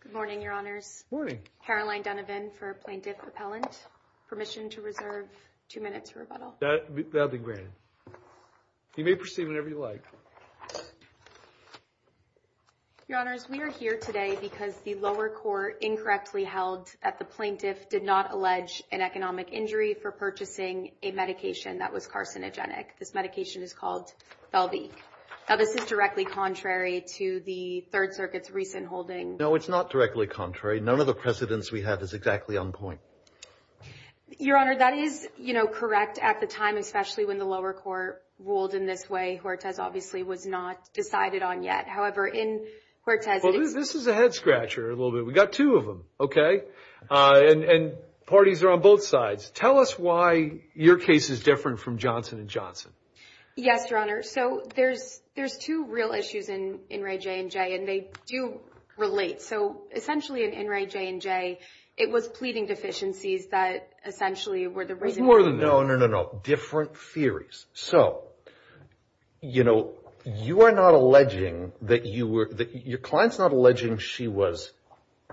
Good morning, Your Honors. Good morning. Caroline Donovan for Plaintiff Appellant. Permission to reserve two minutes for rebuttal. That will be granted. You may proceed whenever you like. Your Honors, we are here today because the lower court incorrectly held that the plaintiff did not allege an economic injury for purchasing a medication that was carcinogenic. This medication is called Belvik. Now, this is directly contrary to the Third Circuit's recent holding. No, it's not directly contrary. None of the precedents we have is exactly on point. Your Honor, that is, you know, correct at the time, especially when the lower court ruled in this way. Hortez obviously was not decided on yet. However, in Hortez – Well, this is a head scratcher a little bit. We got two of them, okay? And parties are on both sides. Tell us why your case is different from Johnson & Johnson. Yes, Your Honor. So, there's two real issues in In Re, J & J, and they do relate. So, essentially, in In Re, J & J, it was pleading deficiencies that essentially were the reason – No, no, no, no, no. Different theories. So, you know, you are not alleging that you were – your client's not alleging she was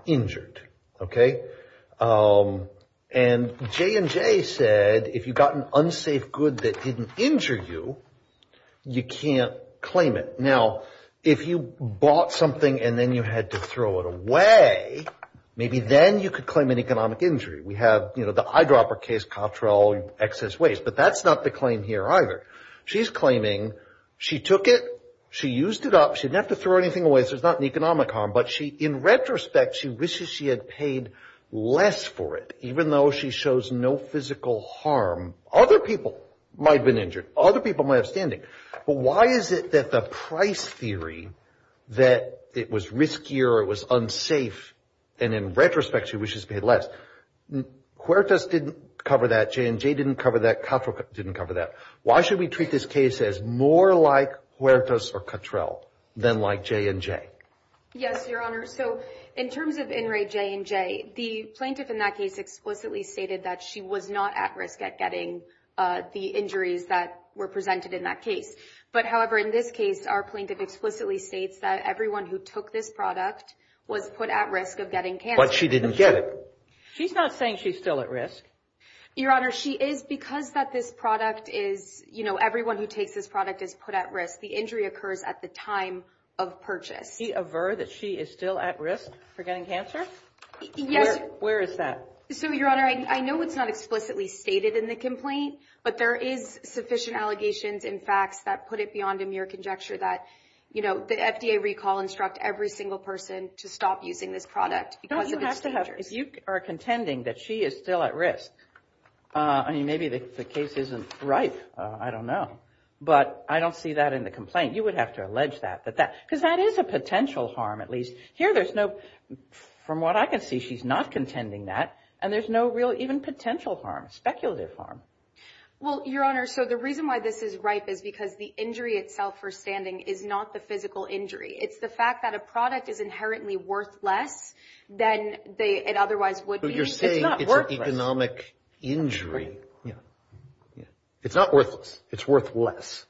injured, okay? And J & J said if you got an unsafe good that didn't injure you, you can't claim it. Now, if you bought something and then you had to throw it away, maybe then you could claim an economic injury. We have, you know, the eyedropper case, Cottrell, excess waste. But that's not the claim here either. She's claiming she took it, she used it up, she didn't have to throw anything away, so it's not an economic harm. But she – in retrospect, she wishes she had paid less for it, even though she shows no physical harm. Other people might have been injured. Other people might have standing. But why is it that the price theory that it was riskier, it was unsafe, and in retrospect, she wishes to pay less. Huertas didn't cover that. J & J didn't cover that. Cottrell didn't cover that. Why should we treat this case as more like Huertas or Cottrell than like J & J? Yes, Your Honor. So, in terms of In re, J & J, the plaintiff in that case explicitly stated that she was not at risk at getting the injuries that were presented in that case. But, however, in this case, our plaintiff explicitly states that everyone who took this product was put at risk of getting cancer. But she didn't get it. She's not saying she's still at risk. Your Honor, she is because that this product is, you know, everyone who takes this product is put at risk. The injury occurs at the time of purchase. Does she aver that she is still at risk for getting cancer? Yes. Where is that? So, Your Honor, I know it's not explicitly stated in the complaint. But there is sufficient allegations and facts that put it beyond a mere conjecture that, you know, the FDA recall instruct every single person to stop using this product because of its dangers. If you are contending that she is still at risk, I mean, maybe the case isn't ripe. I don't know. But I don't see that in the complaint. You would have to allege that. Because that is a potential harm at least. Here there's no, from what I can see, she's not contending that. And there's no real even potential harm, speculative harm. Well, Your Honor, so the reason why this is ripe is because the injury itself for standing is not the physical injury. It's the fact that a product is inherently worthless than it otherwise would be. But you're saying it's an economic injury. It's not worthless. It's worthless.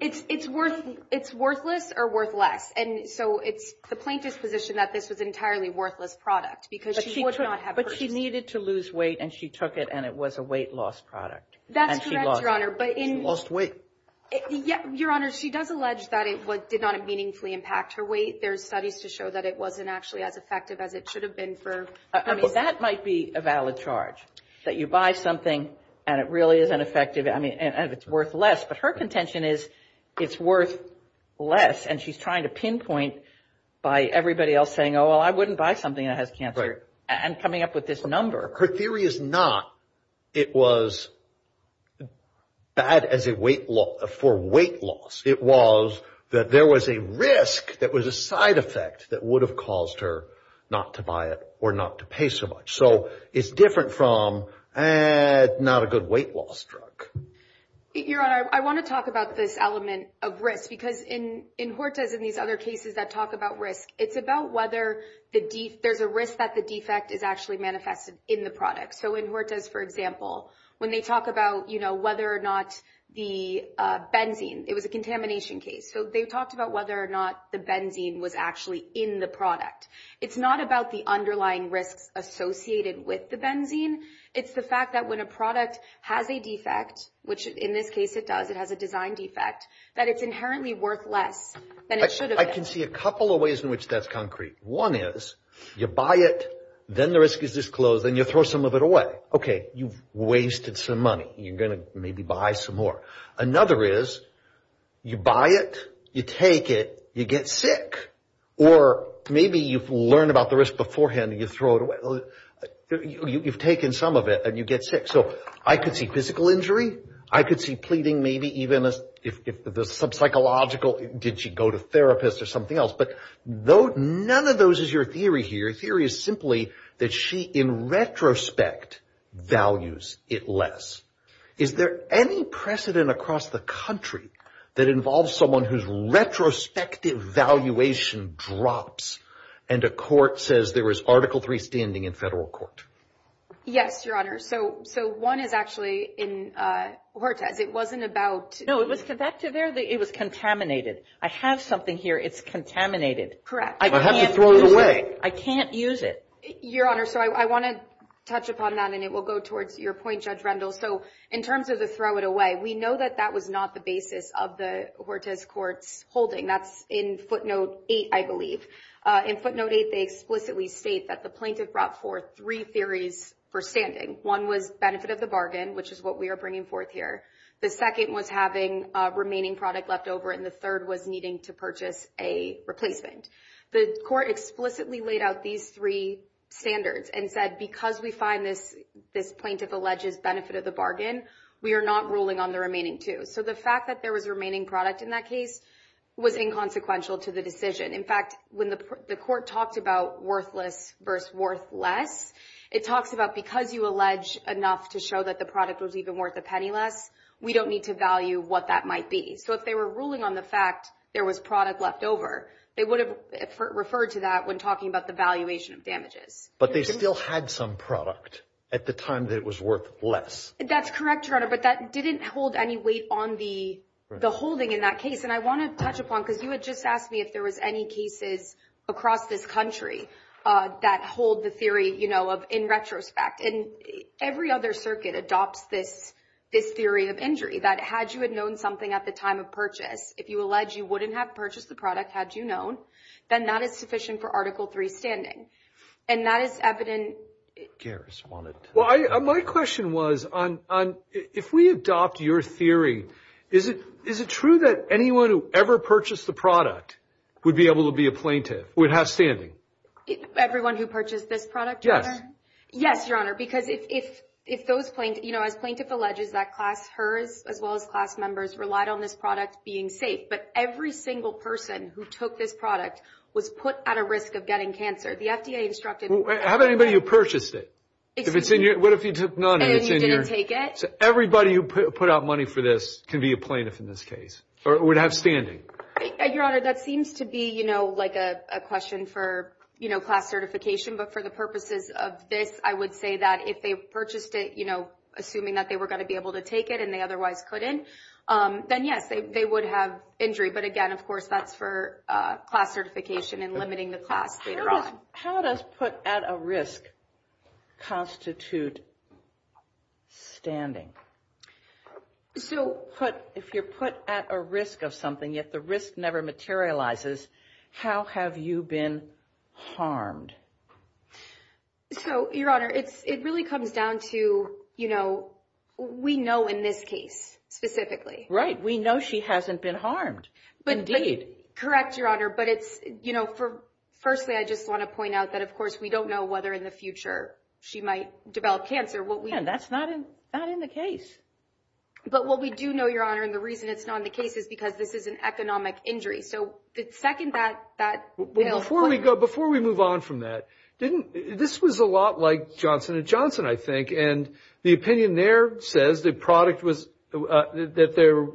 It's worth, it's worthless or worth less. And so it's the plaintiff's position that this was an entirely worthless product. Because she would not have. But she needed to lose weight, and she took it, and it was a weight loss product. That's correct, Your Honor. And she lost weight. She lost weight. Your Honor, she does allege that it did not meaningfully impact her weight. There are studies to show that it wasn't actually as effective as it should have been for me. Well, that might be a valid charge, that you buy something and it really isn't effective. I mean, and it's worth less. But her contention is it's worth less. And she's trying to pinpoint by everybody else saying, oh, well, I wouldn't buy something that has cancer. Right. And coming up with this number. Her theory is not it was bad as a weight loss, for weight loss. It was that there was a risk that was a side effect that would have caused her not to buy it or not to pay so much. So it's different from, eh, not a good weight loss drug. Your Honor, I want to talk about this element of risk because in Hortus and these other cases that talk about risk, it's about whether there's a risk that the defect is actually manifested in the product. So in Hortus, for example, when they talk about, you know, whether or not the benzene, it was a contamination case. So they talked about whether or not the benzene was actually in the product. It's not about the underlying risks associated with the benzene. It's the fact that when a product has a defect, which in this case it does, it has a design defect, that it's inherently worth less than it should have been. I can see a couple of ways in which that's concrete. One is you buy it, then the risk is disclosed, then you throw some of it away. OK, you've wasted some money. You're going to maybe buy some more. Another is you buy it, you take it, you get sick. Or maybe you've learned about the risk beforehand and you throw it away. You've taken some of it and you get sick. So I could see physical injury. I could see pleading maybe even if there's some psychological. Did she go to therapists or something else? But none of those is your theory here. Your theory is simply that she, in retrospect, values it less. Is there any precedent across the country that involves someone whose retrospective valuation drops and a court says there is Article III standing in federal court? Yes, Your Honor. So one is actually in Hortez. It wasn't about ‑‑ No, it was the vector there. It was contaminated. I have something here. It's contaminated. Correct. I can't use it. I have to throw it away. I can't use it. Your Honor, so I want to touch upon that, and it will go towards your point, Judge Rendell. So in terms of the throw it away, we know that that was not the basis of the Hortez court's holding. That's in footnote 8, I believe. In footnote 8, they explicitly state that the plaintiff brought forth three theories for standing. One was benefit of the bargain, which is what we are bringing forth here. The second was having remaining product left over, and the third was needing to purchase a replacement. The court explicitly laid out these three standards and said because we find this plaintiff alleges benefit of the bargain, we are not ruling on the remaining two. So the fact that there was remaining product in that case was inconsequential to the decision. In fact, when the court talked about worthless versus worth less, it talks about because you allege enough to show that the product was even worth a penny less, we don't need to value what that might be. So if they were ruling on the fact there was product left over, they would have referred to that when talking about the valuation of damages. But they still had some product at the time that it was worth less. That's correct, Your Honor, but that didn't hold any weight on the holding in that case. And I want to touch upon, because you had just asked me if there was any cases across this country that hold the theory, you know, if you allege you wouldn't have purchased the product had you known, then that is sufficient for Article III standing. And that is evident. Well, my question was, if we adopt your theory, is it true that anyone who ever purchased the product would be able to be a plaintiff, would have standing? Everyone who purchased this product, Your Honor? Yes. Yes, Your Honor, because if those plaintiffs, you know, as plaintiff alleges that class hers as well as class members relied on this product being safe. But every single person who took this product was put at a risk of getting cancer. The FDA instructed... How about anybody who purchased it? If it's in your... What if you took none and it's in your... And you didn't take it? Everybody who put out money for this can be a plaintiff in this case, or would have standing. Your Honor, that seems to be, you know, like a question for, you know, class certification. But for the purposes of this, I would say that if they purchased it, you know, assuming that they were going to be able to take it and they otherwise couldn't, then yes, they would have injury. But again, of course, that's for class certification and limiting the class later on. How does put at a risk constitute standing? So... If you're put at a risk of something, yet the risk never materializes, how have you been harmed? So, Your Honor, it really comes down to, you know, we know in this case specifically. Right. We know she hasn't been harmed. Indeed. Correct, Your Honor. But it's, you know, firstly, I just want to point out that, of course, we don't know whether in the future she might develop cancer. Again, that's not in the case. But what we do know, Your Honor, and the reason it's not in the case is because this is an economic injury. So, second, that... Before we move on from that, this was a lot like Johnson & Johnson, I think. And the opinion there says the product was, that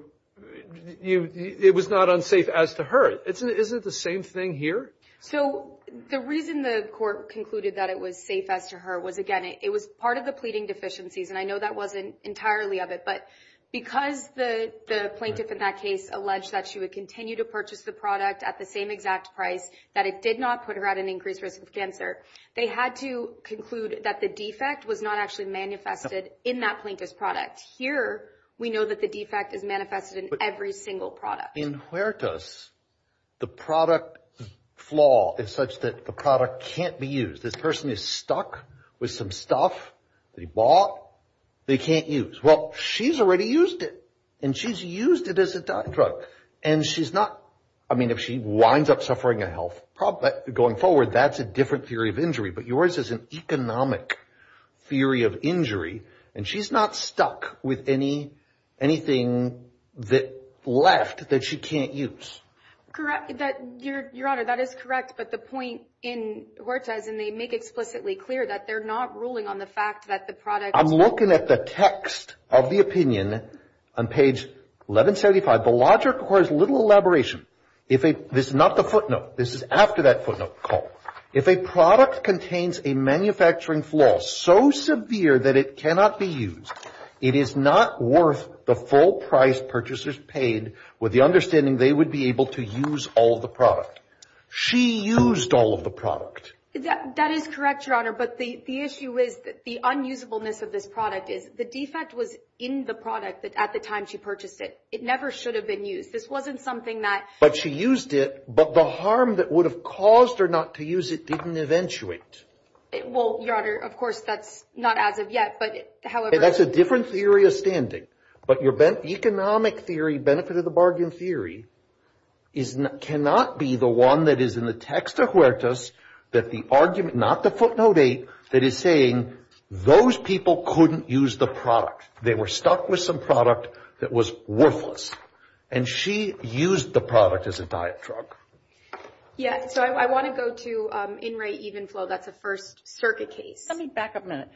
it was not unsafe as to her. Isn't it the same thing here? So, the reason the court concluded that it was safe as to her was, again, it was part of the pleading deficiencies. And I know that wasn't entirely of it. But because the plaintiff in that case alleged that she would continue to purchase the product at the same exact price, that it did not put her at an increased risk of cancer, they had to conclude that the defect was not actually manifested in that plaintiff's product. Here, we know that the defect is manifested in every single product. In Huertas, the product flaw is such that the product can't be used. This person is stuck with some stuff that he bought that he can't use. Well, she's already used it, and she's used it as a drug. And she's not... I mean, if she winds up suffering a health problem going forward, that's a different theory of injury. But yours is an economic theory of injury, and she's not stuck with anything left that she can't use. Correct. Your Honor, that is correct. But the point in Huertas, and they make explicitly clear that they're not ruling on the fact that the product... I'm looking at the text of the opinion on page 1175. The logic requires little elaboration. This is not the footnote. This is after that footnote call. If a product contains a manufacturing flaw so severe that it cannot be used, it is not worth the full price purchasers paid with the understanding they would be able to use all of the product. She used all of the product. That is correct, Your Honor. But the issue is that the unusableness of this product is the defect was in the product at the time she purchased it. It never should have been used. This wasn't something that... But she used it, but the harm that would have caused her not to use it didn't eventuate. Well, Your Honor, of course, that's not as of yet. That's a different theory of standing. But your economic theory, benefit of the bargain theory, cannot be the one that is in the text of Huertas, that the argument, not the footnote 8, that is saying those people couldn't use the product. They were stuck with some product that was worthless. And she used the product as a diet drug. Yeah, so I want to go to in-rate even flow. That's a First Circuit case. Let me back up a minute.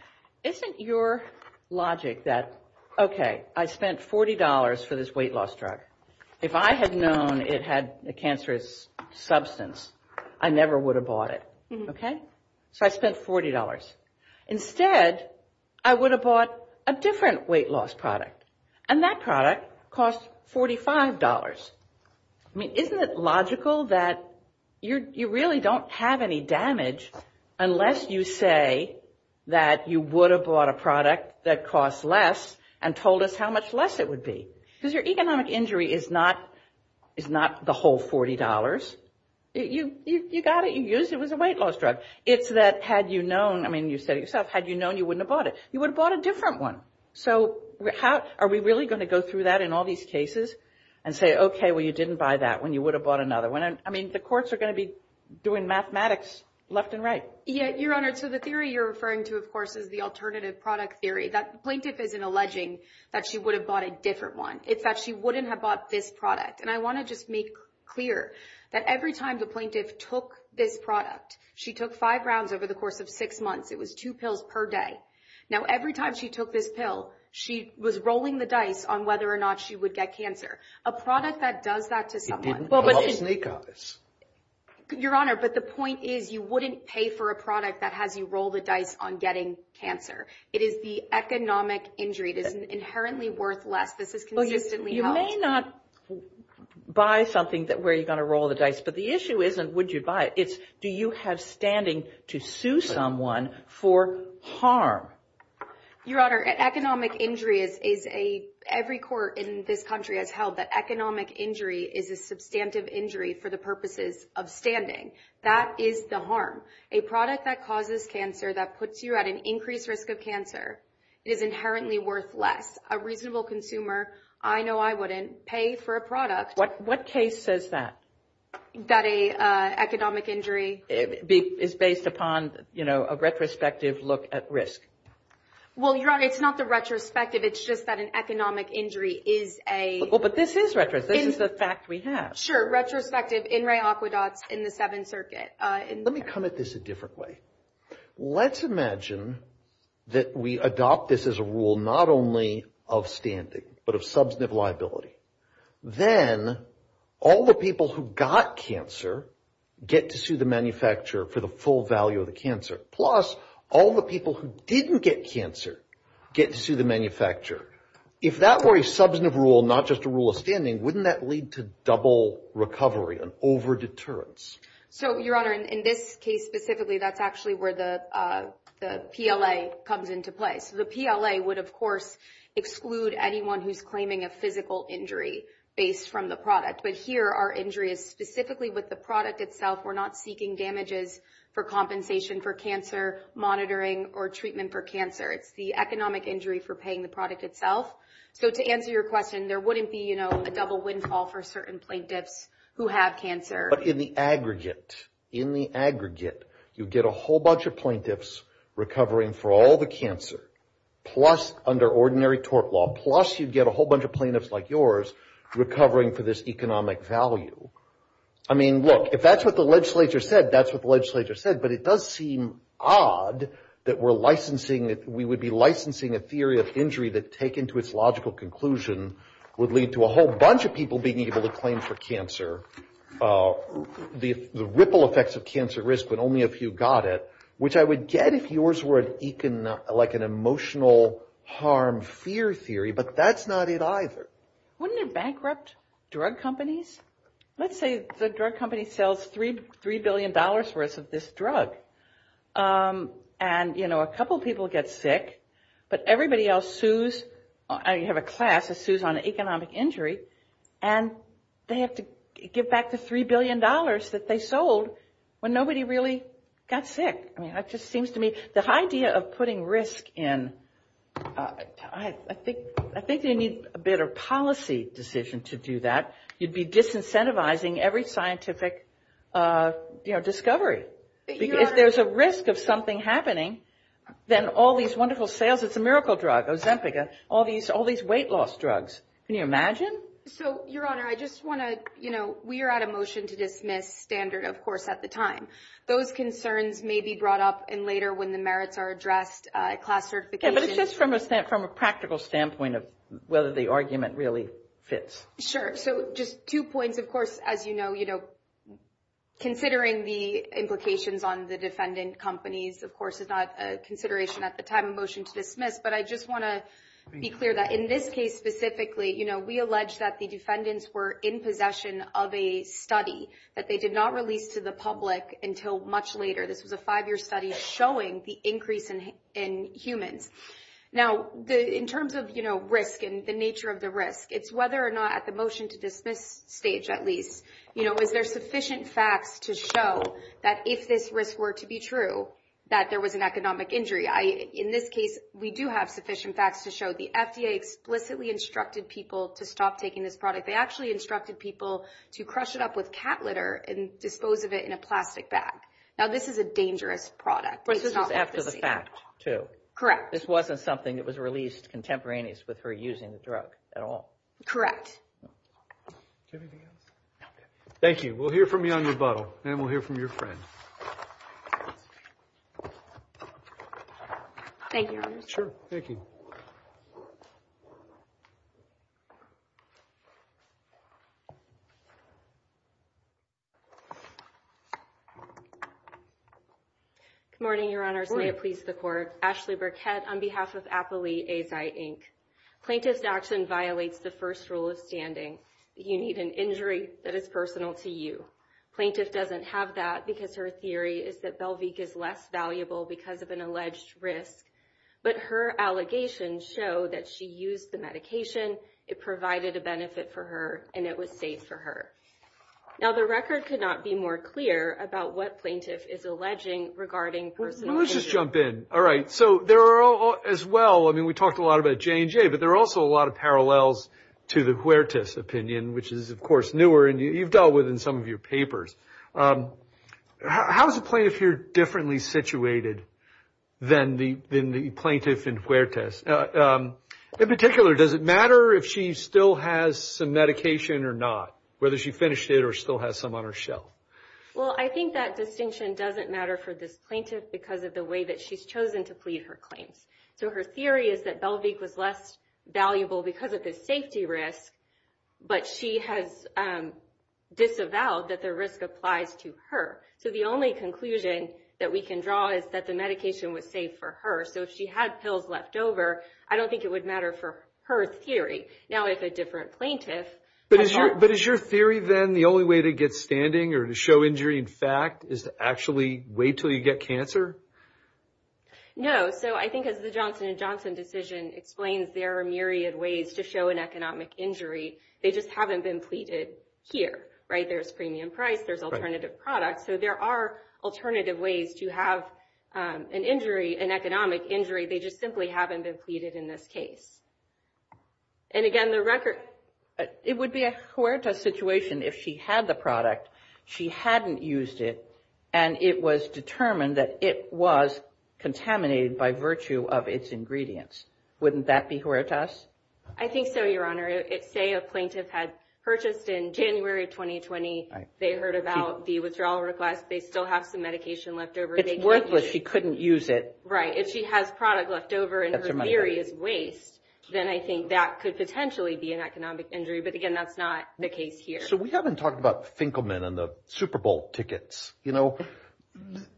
Isn't your logic that, okay, I spent $40 for this weight loss drug. If I had known it had a cancerous substance, I never would have bought it, okay? So I spent $40. Instead, I would have bought a different weight loss product, and that product cost $45. I mean, isn't it logical that you really don't have any damage unless you say that you would have bought a product that costs less and told us how much less it would be? Because your economic injury is not the whole $40. You got it, you used it, it was a weight loss drug. It's that had you known, I mean, you said it yourself, had you known you wouldn't have bought it. You would have bought a different one. So are we really going to go through that in all these cases? And say, okay, well, you didn't buy that one. You would have bought another one. I mean, the courts are going to be doing mathematics left and right. Yeah, Your Honor, so the theory you're referring to, of course, is the alternative product theory. The plaintiff isn't alleging that she would have bought a different one. It's that she wouldn't have bought this product. And I want to just make clear that every time the plaintiff took this product, she took five rounds over the course of six months. It was two pills per day. Now, every time she took this pill, she was rolling the dice on whether or not she would get cancer. A product that does that to someone. It didn't help sneak eyes. Your Honor, but the point is you wouldn't pay for a product that has you roll the dice on getting cancer. It is the economic injury. It is inherently worthless. This is consistently held. You may not buy something where you're going to roll the dice, but the issue isn't would you buy it. It's do you have standing to sue someone for harm? Your Honor, economic injury is a, every court in this country has held that economic injury is a substantive injury for the purposes of standing. That is the harm. A product that causes cancer, that puts you at an increased risk of cancer, is inherently worthless. A reasonable consumer, I know I wouldn't pay for a product. What case says that? That a economic injury. Is based upon, you know, a retrospective look at risk. Well, Your Honor, it's not the retrospective. It's just that an economic injury is a. Well, but this is retrospective. This is the fact we have. Sure, retrospective. In re aqua dots in the Seventh Circuit. Let me come at this a different way. Let's imagine that we adopt this as a rule not only of standing, but of substantive liability. Then all the people who got cancer get to sue the manufacturer for the full value of the cancer. Plus, all the people who didn't get cancer get to sue the manufacturer. If that were a substantive rule, not just a rule of standing, wouldn't that lead to double recovery, an over deterrence? So, Your Honor, in this case specifically, that's actually where the PLA comes into play. So, the PLA would, of course, exclude anyone who's claiming a physical injury based from the product. But here, our injury is specifically with the product itself. We're not seeking damages for compensation for cancer, monitoring, or treatment for cancer. It's the economic injury for paying the product itself. So, to answer your question, there wouldn't be, you know, a double windfall for certain plaintiffs who have cancer. But in the aggregate, in the aggregate, you get a whole bunch of plaintiffs recovering for all the cancer. Plus, under ordinary tort law. Plus, you'd get a whole bunch of plaintiffs like yours recovering for this economic value. I mean, look, if that's what the legislature said, that's what the legislature said. But it does seem odd that we're licensing, that we would be licensing a theory of injury that, taken to its logical conclusion, would lead to a whole bunch of people being able to claim for cancer. The ripple effects of cancer risk, but only a few got it. Which I would get if yours were like an emotional harm fear theory, but that's not it either. Wouldn't it bankrupt drug companies? Let's say the drug company sells $3 billion worth of this drug. And, you know, a couple people get sick. But everybody else sues, you have a class that sues on economic injury. And they have to give back the $3 billion that they sold when nobody really got sick. I mean, that just seems to me, the idea of putting risk in, I think you need a better policy decision to do that. You'd be disincentivizing every scientific, you know, discovery. If there's a risk of something happening, then all these wonderful sales, it's a miracle drug, Ozempeca, all these weight loss drugs. Can you imagine? So, Your Honor, I just want to, you know, we are at a motion to dismiss standard, of course, at the time. Those concerns may be brought up in later when the merits are addressed, class certification. Yeah, but it's just from a practical standpoint of whether the argument really fits. Sure. So, just two points. Of course, as you know, you know, considering the implications on the defendant companies, of course, is not a consideration at the time of motion to dismiss. But I just want to be clear that in this case specifically, you know, we allege that the defendants were in possession of a study that they did not release to the public until much later. This was a five-year study showing the increase in humans. Now, in terms of, you know, risk and the nature of the risk, it's whether or not at the motion to dismiss stage, at least, you know, is there sufficient facts to show that if this risk were to be true, that there was an economic injury. In this case, we do have sufficient facts to show the FDA explicitly instructed people to stop taking this product. They actually instructed people to crush it up with cat litter and dispose of it in a plastic bag. Now, this is a dangerous product. This was after the fact, too. Correct. This wasn't something that was released contemporaneous with her using the drug at all. Correct. Anything else? No. Thank you. We'll hear from you on your bottle, and we'll hear from your friend. Thank you. Sure. Thank you. Good morning, Your Honors. May it please the Court. Ashley Burkett on behalf of Apoly Asi, Inc. Plaintiff's action violates the first rule of standing. You need an injury that is personal to you. Plaintiff doesn't have that because her theory is that Belvique is less valuable because of an alleged risk. But her allegations show that she used the medication, it provided a benefit for her, and it was safe for her. Now, the record could not be more clear about what Plaintiff is alleging regarding personal injury. Well, let's just jump in. All right. So there are, as well, I mean, we talked a lot about J&J, but there are also a lot of parallels to the Huertas opinion, which is, of course, newer and you've dealt with in some of your papers. How is the plaintiff here differently situated than the plaintiff in Huertas? In particular, does it matter if she still has some medication or not, whether she finished it or still has some on her shelf? Well, I think that distinction doesn't matter for this plaintiff because of the way that she's chosen to plead her claims. So her theory is that Belvique was less valuable because of the safety risk, but she has disavowed that the risk applies to her. So the only conclusion that we can draw is that the medication was safe for her. So if she had pills left over, I don't think it would matter for her theory. Now, if a different plaintiff… But is your theory then the only way to get standing or to show injury in fact is to actually wait until you get cancer? No. So I think as the Johnson & Johnson decision explains, there are myriad ways to show an economic injury. They just haven't been pleaded here, right? There's premium price. There's alternative products. So there are alternative ways to have an injury, an economic injury. They just simply haven't been pleaded in this case. And, again, the record… It would be a Huerta situation if she had the product, she hadn't used it, and it was determined that it was contaminated by virtue of its ingredients. Wouldn't that be Huertas? I think so, Your Honor. Say a plaintiff had purchased in January of 2020. They heard about the withdrawal request. They still have some medication left over. It's worthless. She couldn't use it. Right. If she has product left over and her theory is waste, then I think that could potentially be an economic injury. But, again, that's not the case here. So we haven't talked about Finkelman and the Super Bowl tickets. You know,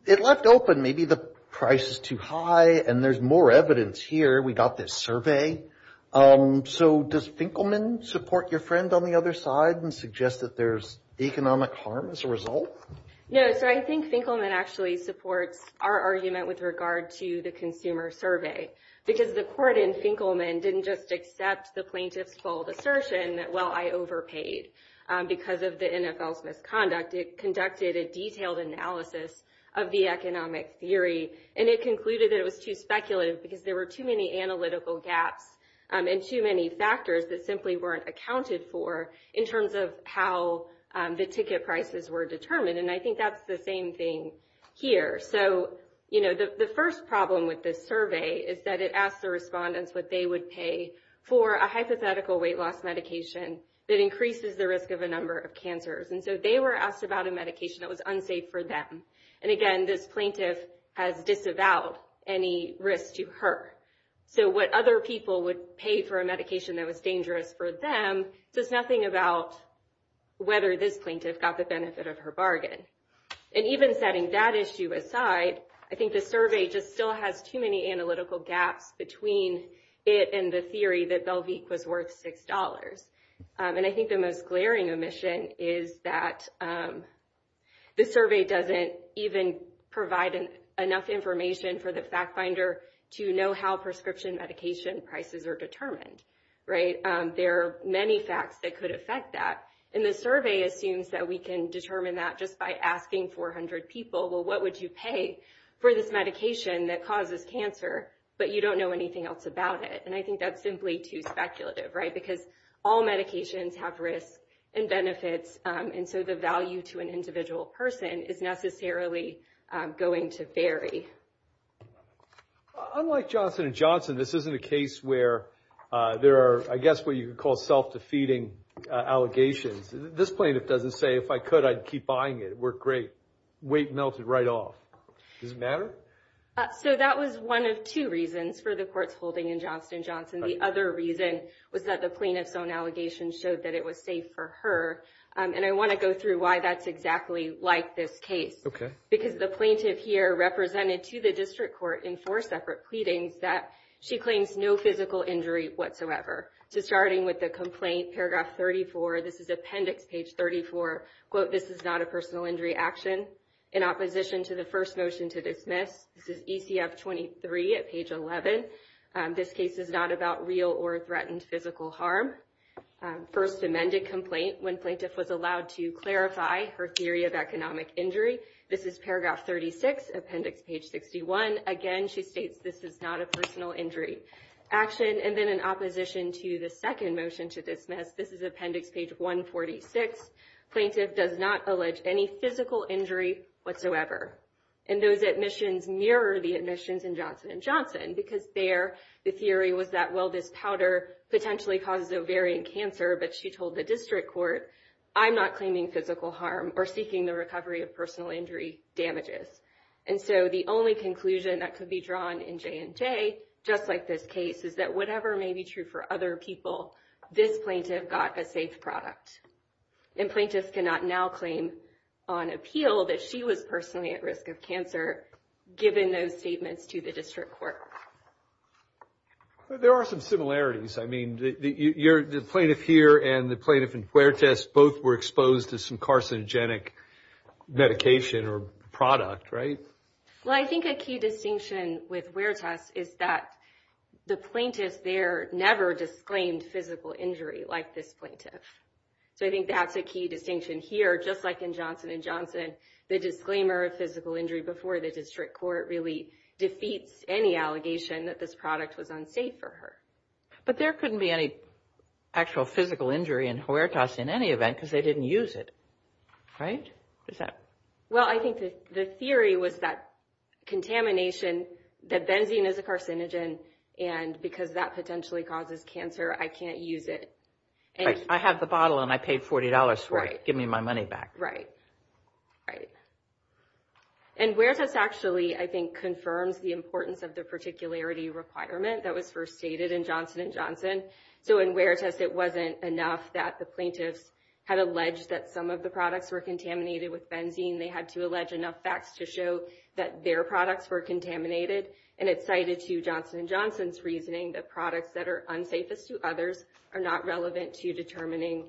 it left open maybe the price is too high and there's more evidence here. We got this survey. So does Finkelman support your friend on the other side and suggest that there's economic harm as a result? No, sir. I think Finkelman actually supports our argument with regard to the consumer survey because the court in Finkelman didn't just accept the plaintiff's bold assertion that, well, I overpaid because of the NFL's misconduct. It conducted a detailed analysis of the economic theory, and it concluded that it was too speculative because there were too many analytical gaps and too many factors that simply weren't accounted for in terms of how the ticket prices were determined. And I think that's the same thing here. So, you know, the first problem with this survey is that it asked the respondents what they would pay for a hypothetical weight loss medication that increases the risk of a number of cancers. And so they were asked about a medication that was unsafe for them. And, again, this plaintiff has disavowed any risk to her. So what other people would pay for a medication that was dangerous for them says nothing about whether this plaintiff got the benefit of her bargain. And even setting that issue aside, I think the survey just still has too many analytical gaps between it and the theory that Belvique was worth $6. And I think the most glaring omission is that the survey doesn't even provide enough information for the fact finder to know how prescription medication prices are determined, right? There are many facts that could affect that. And the survey assumes that we can determine that just by asking 400 people, well, what would you pay for this medication that causes cancer, but you don't know anything else about it? And I think that's simply too speculative, right? Because all medications have risks and benefits. And so the value to an individual person is necessarily going to vary. Unlike Johnson & Johnson, this isn't a case where there are, I guess, what you would call self-defeating allegations. This plaintiff doesn't say, if I could, I'd keep buying it. It worked great. Weight melted right off. Does it matter? So that was one of two reasons for the court's holding in Johnson & Johnson. The other reason was that the plaintiff's own allegations showed that it was safe for her. And I want to go through why that's exactly like this case. Okay. Because the plaintiff here represented to the district court in four separate pleadings that she claims no physical injury whatsoever. So starting with the complaint, paragraph 34, this is appendix page 34, quote, this is not a personal injury action in opposition to the first motion to dismiss. This is ECF 23 at page 11. This case is not about real or threatened physical harm. First amended complaint when plaintiff was allowed to clarify her theory of economic injury. This is paragraph 36, appendix page 61. Again, she states this is not a personal injury action. And then in opposition to the second motion to dismiss, this is appendix page 146. Plaintiff does not allege any physical injury whatsoever. And those admissions mirror the admissions in Johnson & Johnson, because there the theory was that, well, this powder potentially causes ovarian cancer. But she told the district court, I'm not claiming physical harm or seeking the recovery of personal injury damages. And so the only conclusion that could be drawn in J&J, just like this case, is that whatever may be true for other people, this plaintiff got a safe product. And plaintiff cannot now claim on appeal that she was personally at risk of cancer, given those statements to the district court. There are some similarities. I mean, the plaintiff here and the plaintiff in Huertas, both were exposed to some carcinogenic medication or product, right? Well, I think a key distinction with Huertas is that the plaintiff there never disclaimed physical injury like this plaintiff. So I think that's a key distinction here. Just like in Johnson & Johnson, the disclaimer of physical injury before the district court really defeats any allegation that this product was unsafe for her. But there couldn't be any actual physical injury in Huertas in any event, because they didn't use it, right? Well, I think the theory was that contamination, that benzene is a carcinogen, and because that potentially causes cancer, I can't use it. I have the bottle, and I paid $40 for it. Give me my money back. And Huertas actually, I think, confirms the importance of the particularity requirement that was first stated in Johnson & Johnson. So in Huertas, it wasn't enough that the plaintiffs had alleged that some of the products were contaminated with benzene. They had to allege enough facts to show that their products were contaminated, and it's cited to Johnson & Johnson's reasoning that products that are unsafest to others are not relevant to determining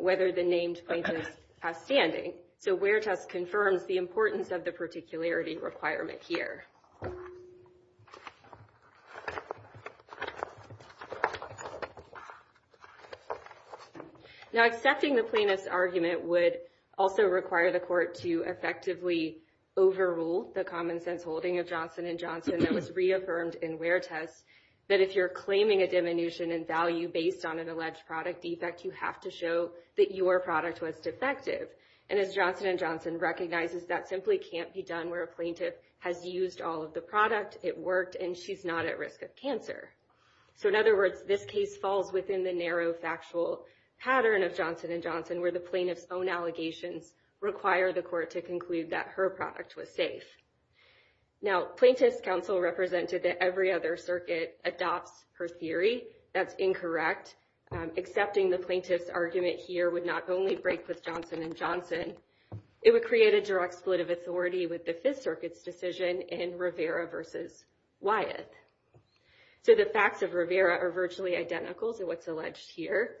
whether the named plaintiff is outstanding. So Huertas confirms the importance of the particularity requirement here. Now, accepting the plaintiff's argument would also require the court to effectively overrule the common sense holding of Johnson & Johnson that was reaffirmed in Huertas, that if you're claiming a diminution in value based on an alleged product defect, you have to show that your product was defective. And as Johnson & Johnson recognizes, that simply can't be done where a plaintiff has used all of the product, it worked, and she's not at risk of cancer. So in other words, this case falls within the narrow factual pattern of Johnson & Johnson where the plaintiff's own allegations require the court to conclude that her product was safe. Now, Plaintiff's Counsel represented that every other circuit adopts her theory. That's incorrect. Accepting the plaintiff's argument here would not only break with Johnson & Johnson, it would create a direct split of authority with the Fifth Circuit's decision in Rivera v. Wyeth. So the facts of Rivera are virtually identical to what's alleged here.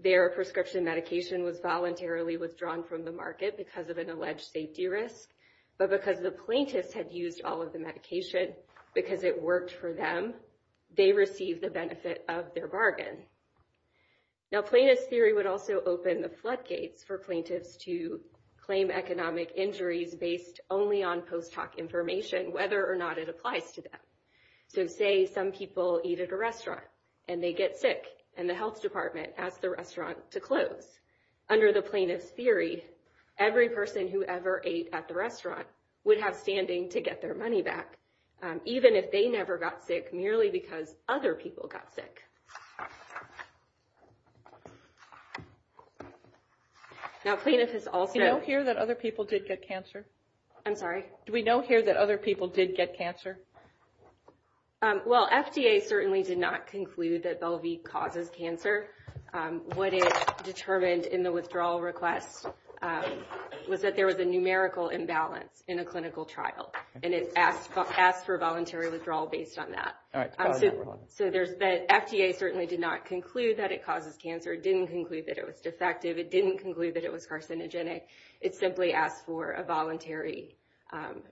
Their prescription medication was voluntarily withdrawn from the market because of an alleged safety risk. But because the plaintiffs had used all of the medication, because it worked for them, they received the benefit of their bargain. Now, plaintiff's theory would also open the floodgates for plaintiffs to claim economic injuries based only on post hoc information, whether or not it applies to them. So say some people eat at a restaurant and they get sick, and the health department asks the restaurant to close. Under the plaintiff's theory, every person who ever ate at the restaurant would have standing to get their money back, even if they never got sick merely because other people got sick. Now, plaintiff has also... Do we know here that other people did get cancer? I'm sorry? Do we know here that other people did get cancer? Well, FDA certainly did not conclude that Bellevue causes cancer. What it determined in the withdrawal request was that there was a numerical imbalance in a clinical trial, and it asked for voluntary withdrawal based on that. All right. So FDA certainly did not conclude that it causes cancer. It didn't conclude that it was defective. It didn't conclude that it was carcinogenic. It simply asked for a voluntary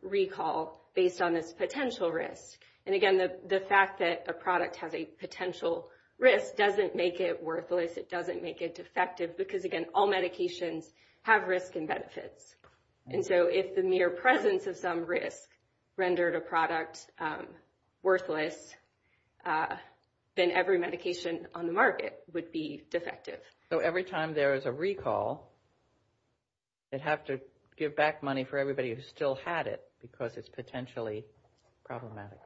recall based on this potential risk. And, again, the fact that a product has a potential risk doesn't make it worthless. It doesn't make it defective because, again, all medications have risk and benefits. And so if the mere presence of some risk rendered a product worthless, then every medication on the market would be defective. So every time there is a recall, they'd have to give back money for everybody who still had it because it's potentially problematic.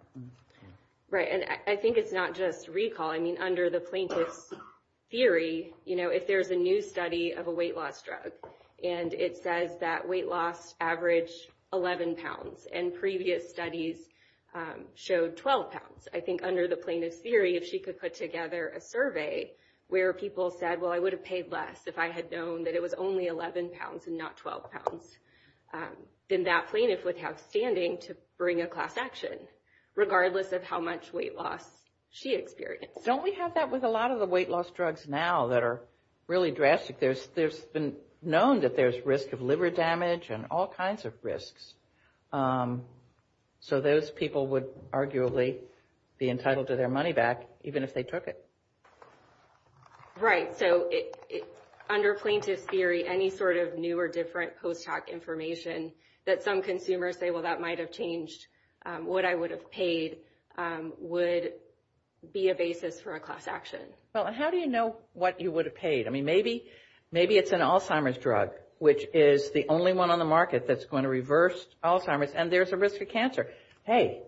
Right. And I think it's not just recall. I mean, under the plaintiff's theory, you know, if there's a new study of a weight loss drug and it says that weight loss averaged 11 pounds and previous studies showed 12 pounds, I think under the plaintiff's theory, if she could put together a survey where people said, well, I would have paid less if I had known that it was only 11 pounds and not 12 pounds, then that plaintiff would have standing to bring a class action regardless of how much weight loss she experienced. Don't we have that with a lot of the weight loss drugs now that are really drastic? There's been known that there's risk of liver damage and all kinds of risks. So those people would arguably be entitled to their money back even if they took it. Right. So under plaintiff's theory, any sort of new or different post hoc information that some consumers say, well, that might have changed what I would have paid would be a basis for a class action. Well, how do you know what you would have paid? I mean, maybe it's an Alzheimer's drug, which is the only one on the market that's going to reverse Alzheimer's, and there's a risk of cancer. Hey,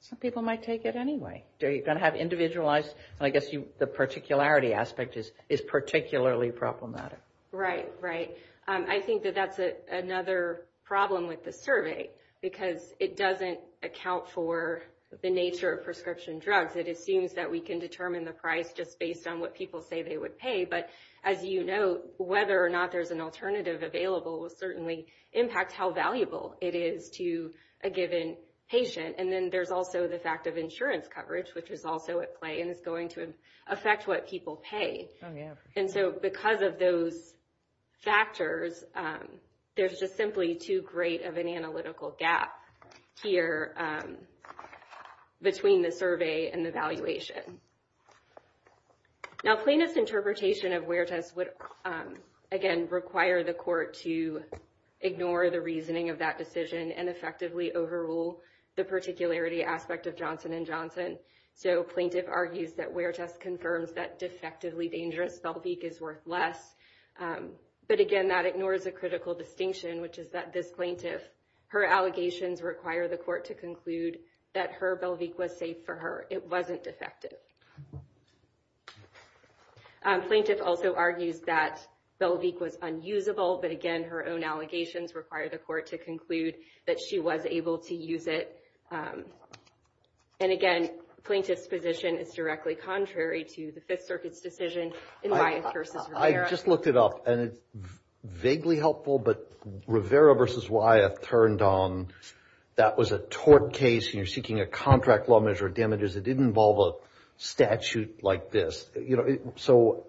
some people might take it anyway. You're going to have individualized, and I guess the particularity aspect is particularly problematic. Right, right. I think that that's another problem with the survey because it doesn't account for the nature of prescription drugs. It assumes that we can determine the price just based on what people say they would pay. But as you know, whether or not there's an alternative available will certainly impact how valuable it is to a given patient. And then there's also the fact of insurance coverage, which is also at play and is going to affect what people pay. Oh, yeah. And so because of those factors, there's just simply too great of an analytical gap here between the survey and the valuation. Now, plainest interpretation of Huertas would, again, require the court to ignore the reasoning of that decision and effectively overrule the particularity aspect of Johnson & Johnson. So plaintiff argues that Huertas confirms that defectively dangerous Belvique is worth less. But, again, that ignores a critical distinction, which is that this plaintiff, her allegations require the court to conclude that her Belvique was safe for her. It wasn't defective. Plaintiff also argues that Belvique was unusable. But, again, her own allegations require the court to conclude that she was able to use it. And, again, plaintiff's position is directly contrary to the Fifth Circuit's decision in Wyeth v. Rivera. I just looked it up, and it's vaguely helpful. But Rivera v. Wyeth turned on that was a tort case, and you're seeking a contract law measure damages. It didn't involve a statute like this. So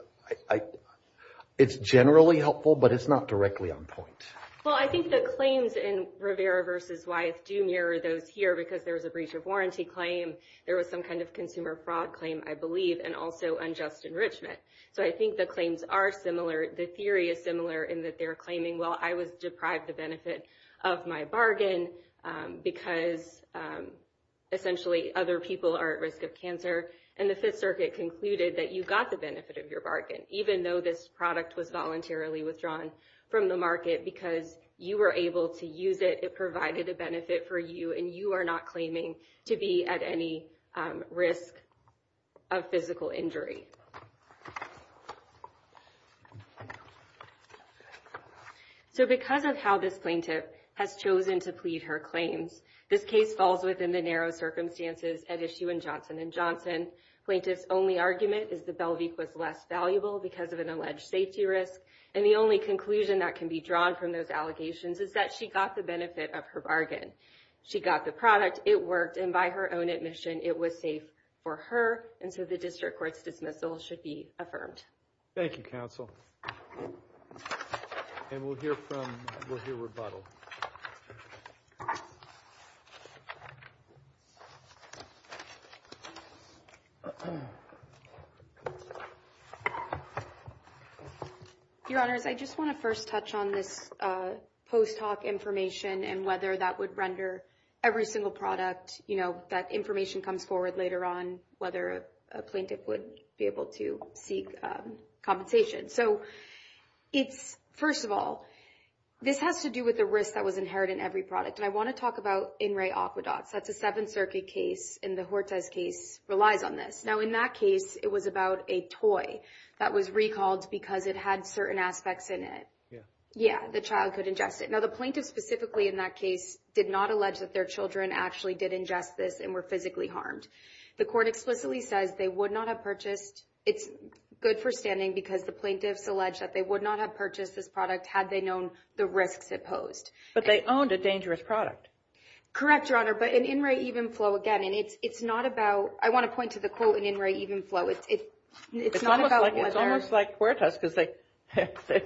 it's generally helpful, but it's not directly on point. Well, I think the claims in Rivera v. Wyeth do mirror those here because there was a breach of warranty claim. There was some kind of consumer fraud claim, I believe, and also unjust enrichment. So I think the claims are similar. The theory is similar in that they're claiming, well, I was deprived the benefit of my bargain because, essentially, other people are at risk of cancer. And the Fifth Circuit concluded that you got the benefit of your bargain, even though this product was voluntarily withdrawn from the market because you were able to use it. It provided a benefit for you, and you are not claiming to be at any risk of physical injury. So because of how this plaintiff has chosen to plead her claims, this case falls within the narrow circumstances at issue in Johnson & Johnson. Plaintiff's only argument is that Bellevue was less valuable because of an alleged safety risk, and the only conclusion that can be drawn from those allegations is that she got the benefit of her bargain. She got the product, it worked, and by her own admission, it was safe for her, and so the district court's dismissal should be affirmed. Thank you, counsel. And we'll hear rebuttal. Your Honors, I just want to first touch on this post hoc information and whether that would render every single product, you know, that information comes forward later on, and whether a plaintiff would be able to seek compensation. So it's, first of all, this has to do with the risk that was inherited in every product, and I want to talk about In Re Aqueducts. That's a Seventh Circuit case, and the Hortez case relies on this. Now, in that case, it was about a toy that was recalled because it had certain aspects in it. Yeah. Yeah, the child could ingest it. Now, the plaintiff specifically in that case did not allege that their children actually did ingest this and were physically harmed. The court explicitly says they would not have purchased. It's good for standing because the plaintiffs allege that they would not have purchased this product had they known the risks it posed. But they owned a dangerous product. Correct, Your Honor, but in In Re Evenflow, again, and it's not about – I want to point to the quote in In Re Evenflow. It's almost like Hortez because they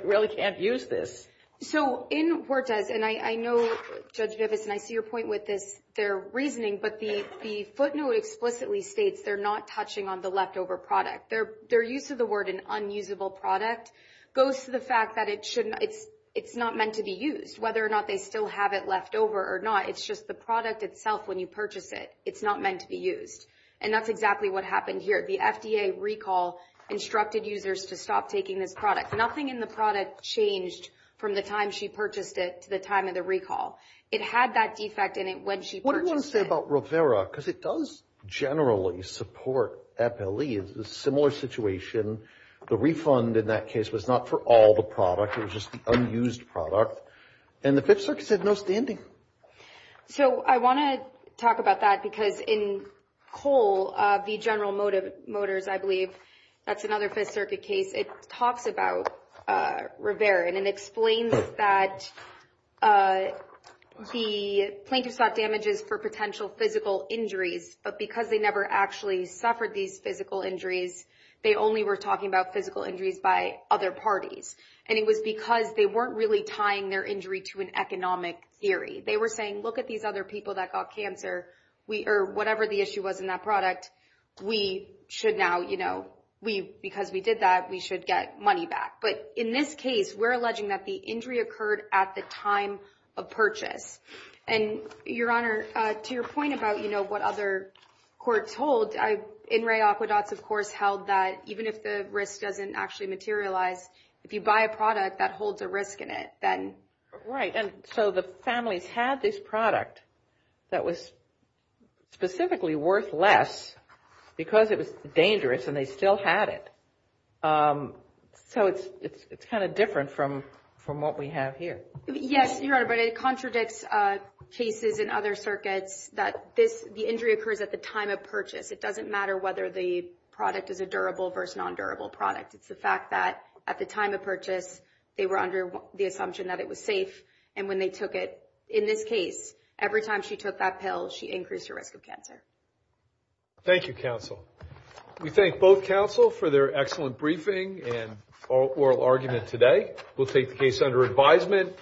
really can't use this. So in Hortez, and I know, Judge Griffiths, and I see your point with this, their reasoning, but the footnote explicitly states they're not touching on the leftover product. Their use of the word an unusable product goes to the fact that it's not meant to be used. Whether or not they still have it left over or not, it's just the product itself when you purchase it. It's not meant to be used, and that's exactly what happened here. The FDA recall instructed users to stop taking this product. Nothing in the product changed from the time she purchased it to the time of the recall. It had that defect in it when she purchased it. What do you want to say about Rivera? Because it does generally support FLE. It's a similar situation. The refund in that case was not for all the product. It was just the unused product, and the Fifth Circuit said no standing. So I want to talk about that because in Cole v. General Motors, I believe, that's another Fifth Circuit case. It talks about Rivera, and it explains that the plaintiffs got damages for potential physical injuries, but because they never actually suffered these physical injuries, they only were talking about physical injuries by other parties. And it was because they weren't really tying their injury to an economic theory. They were saying, look at these other people that got cancer, or whatever the issue was in that product. We should now, you know, because we did that, we should get money back. But in this case, we're alleging that the injury occurred at the time of purchase. And, Your Honor, to your point about, you know, what other courts hold, NRA aqueducts, of course, held that even if the risk doesn't actually materialize, if you buy a product that holds a risk in it, then. Right, and so the families had this product that was specifically worth less because it was dangerous, and they still had it. So it's kind of different from what we have here. Yes, Your Honor, but it contradicts cases in other circuits that the injury occurs at the time of purchase. It doesn't matter whether the product is a durable versus non-durable product. It's the fact that at the time of purchase, they were under the assumption that it was safe. And when they took it, in this case, every time she took that pill, she increased her risk of cancer. Thank you, counsel. We thank both counsel for their excellent briefing and oral argument today. We'll take the case under advisement.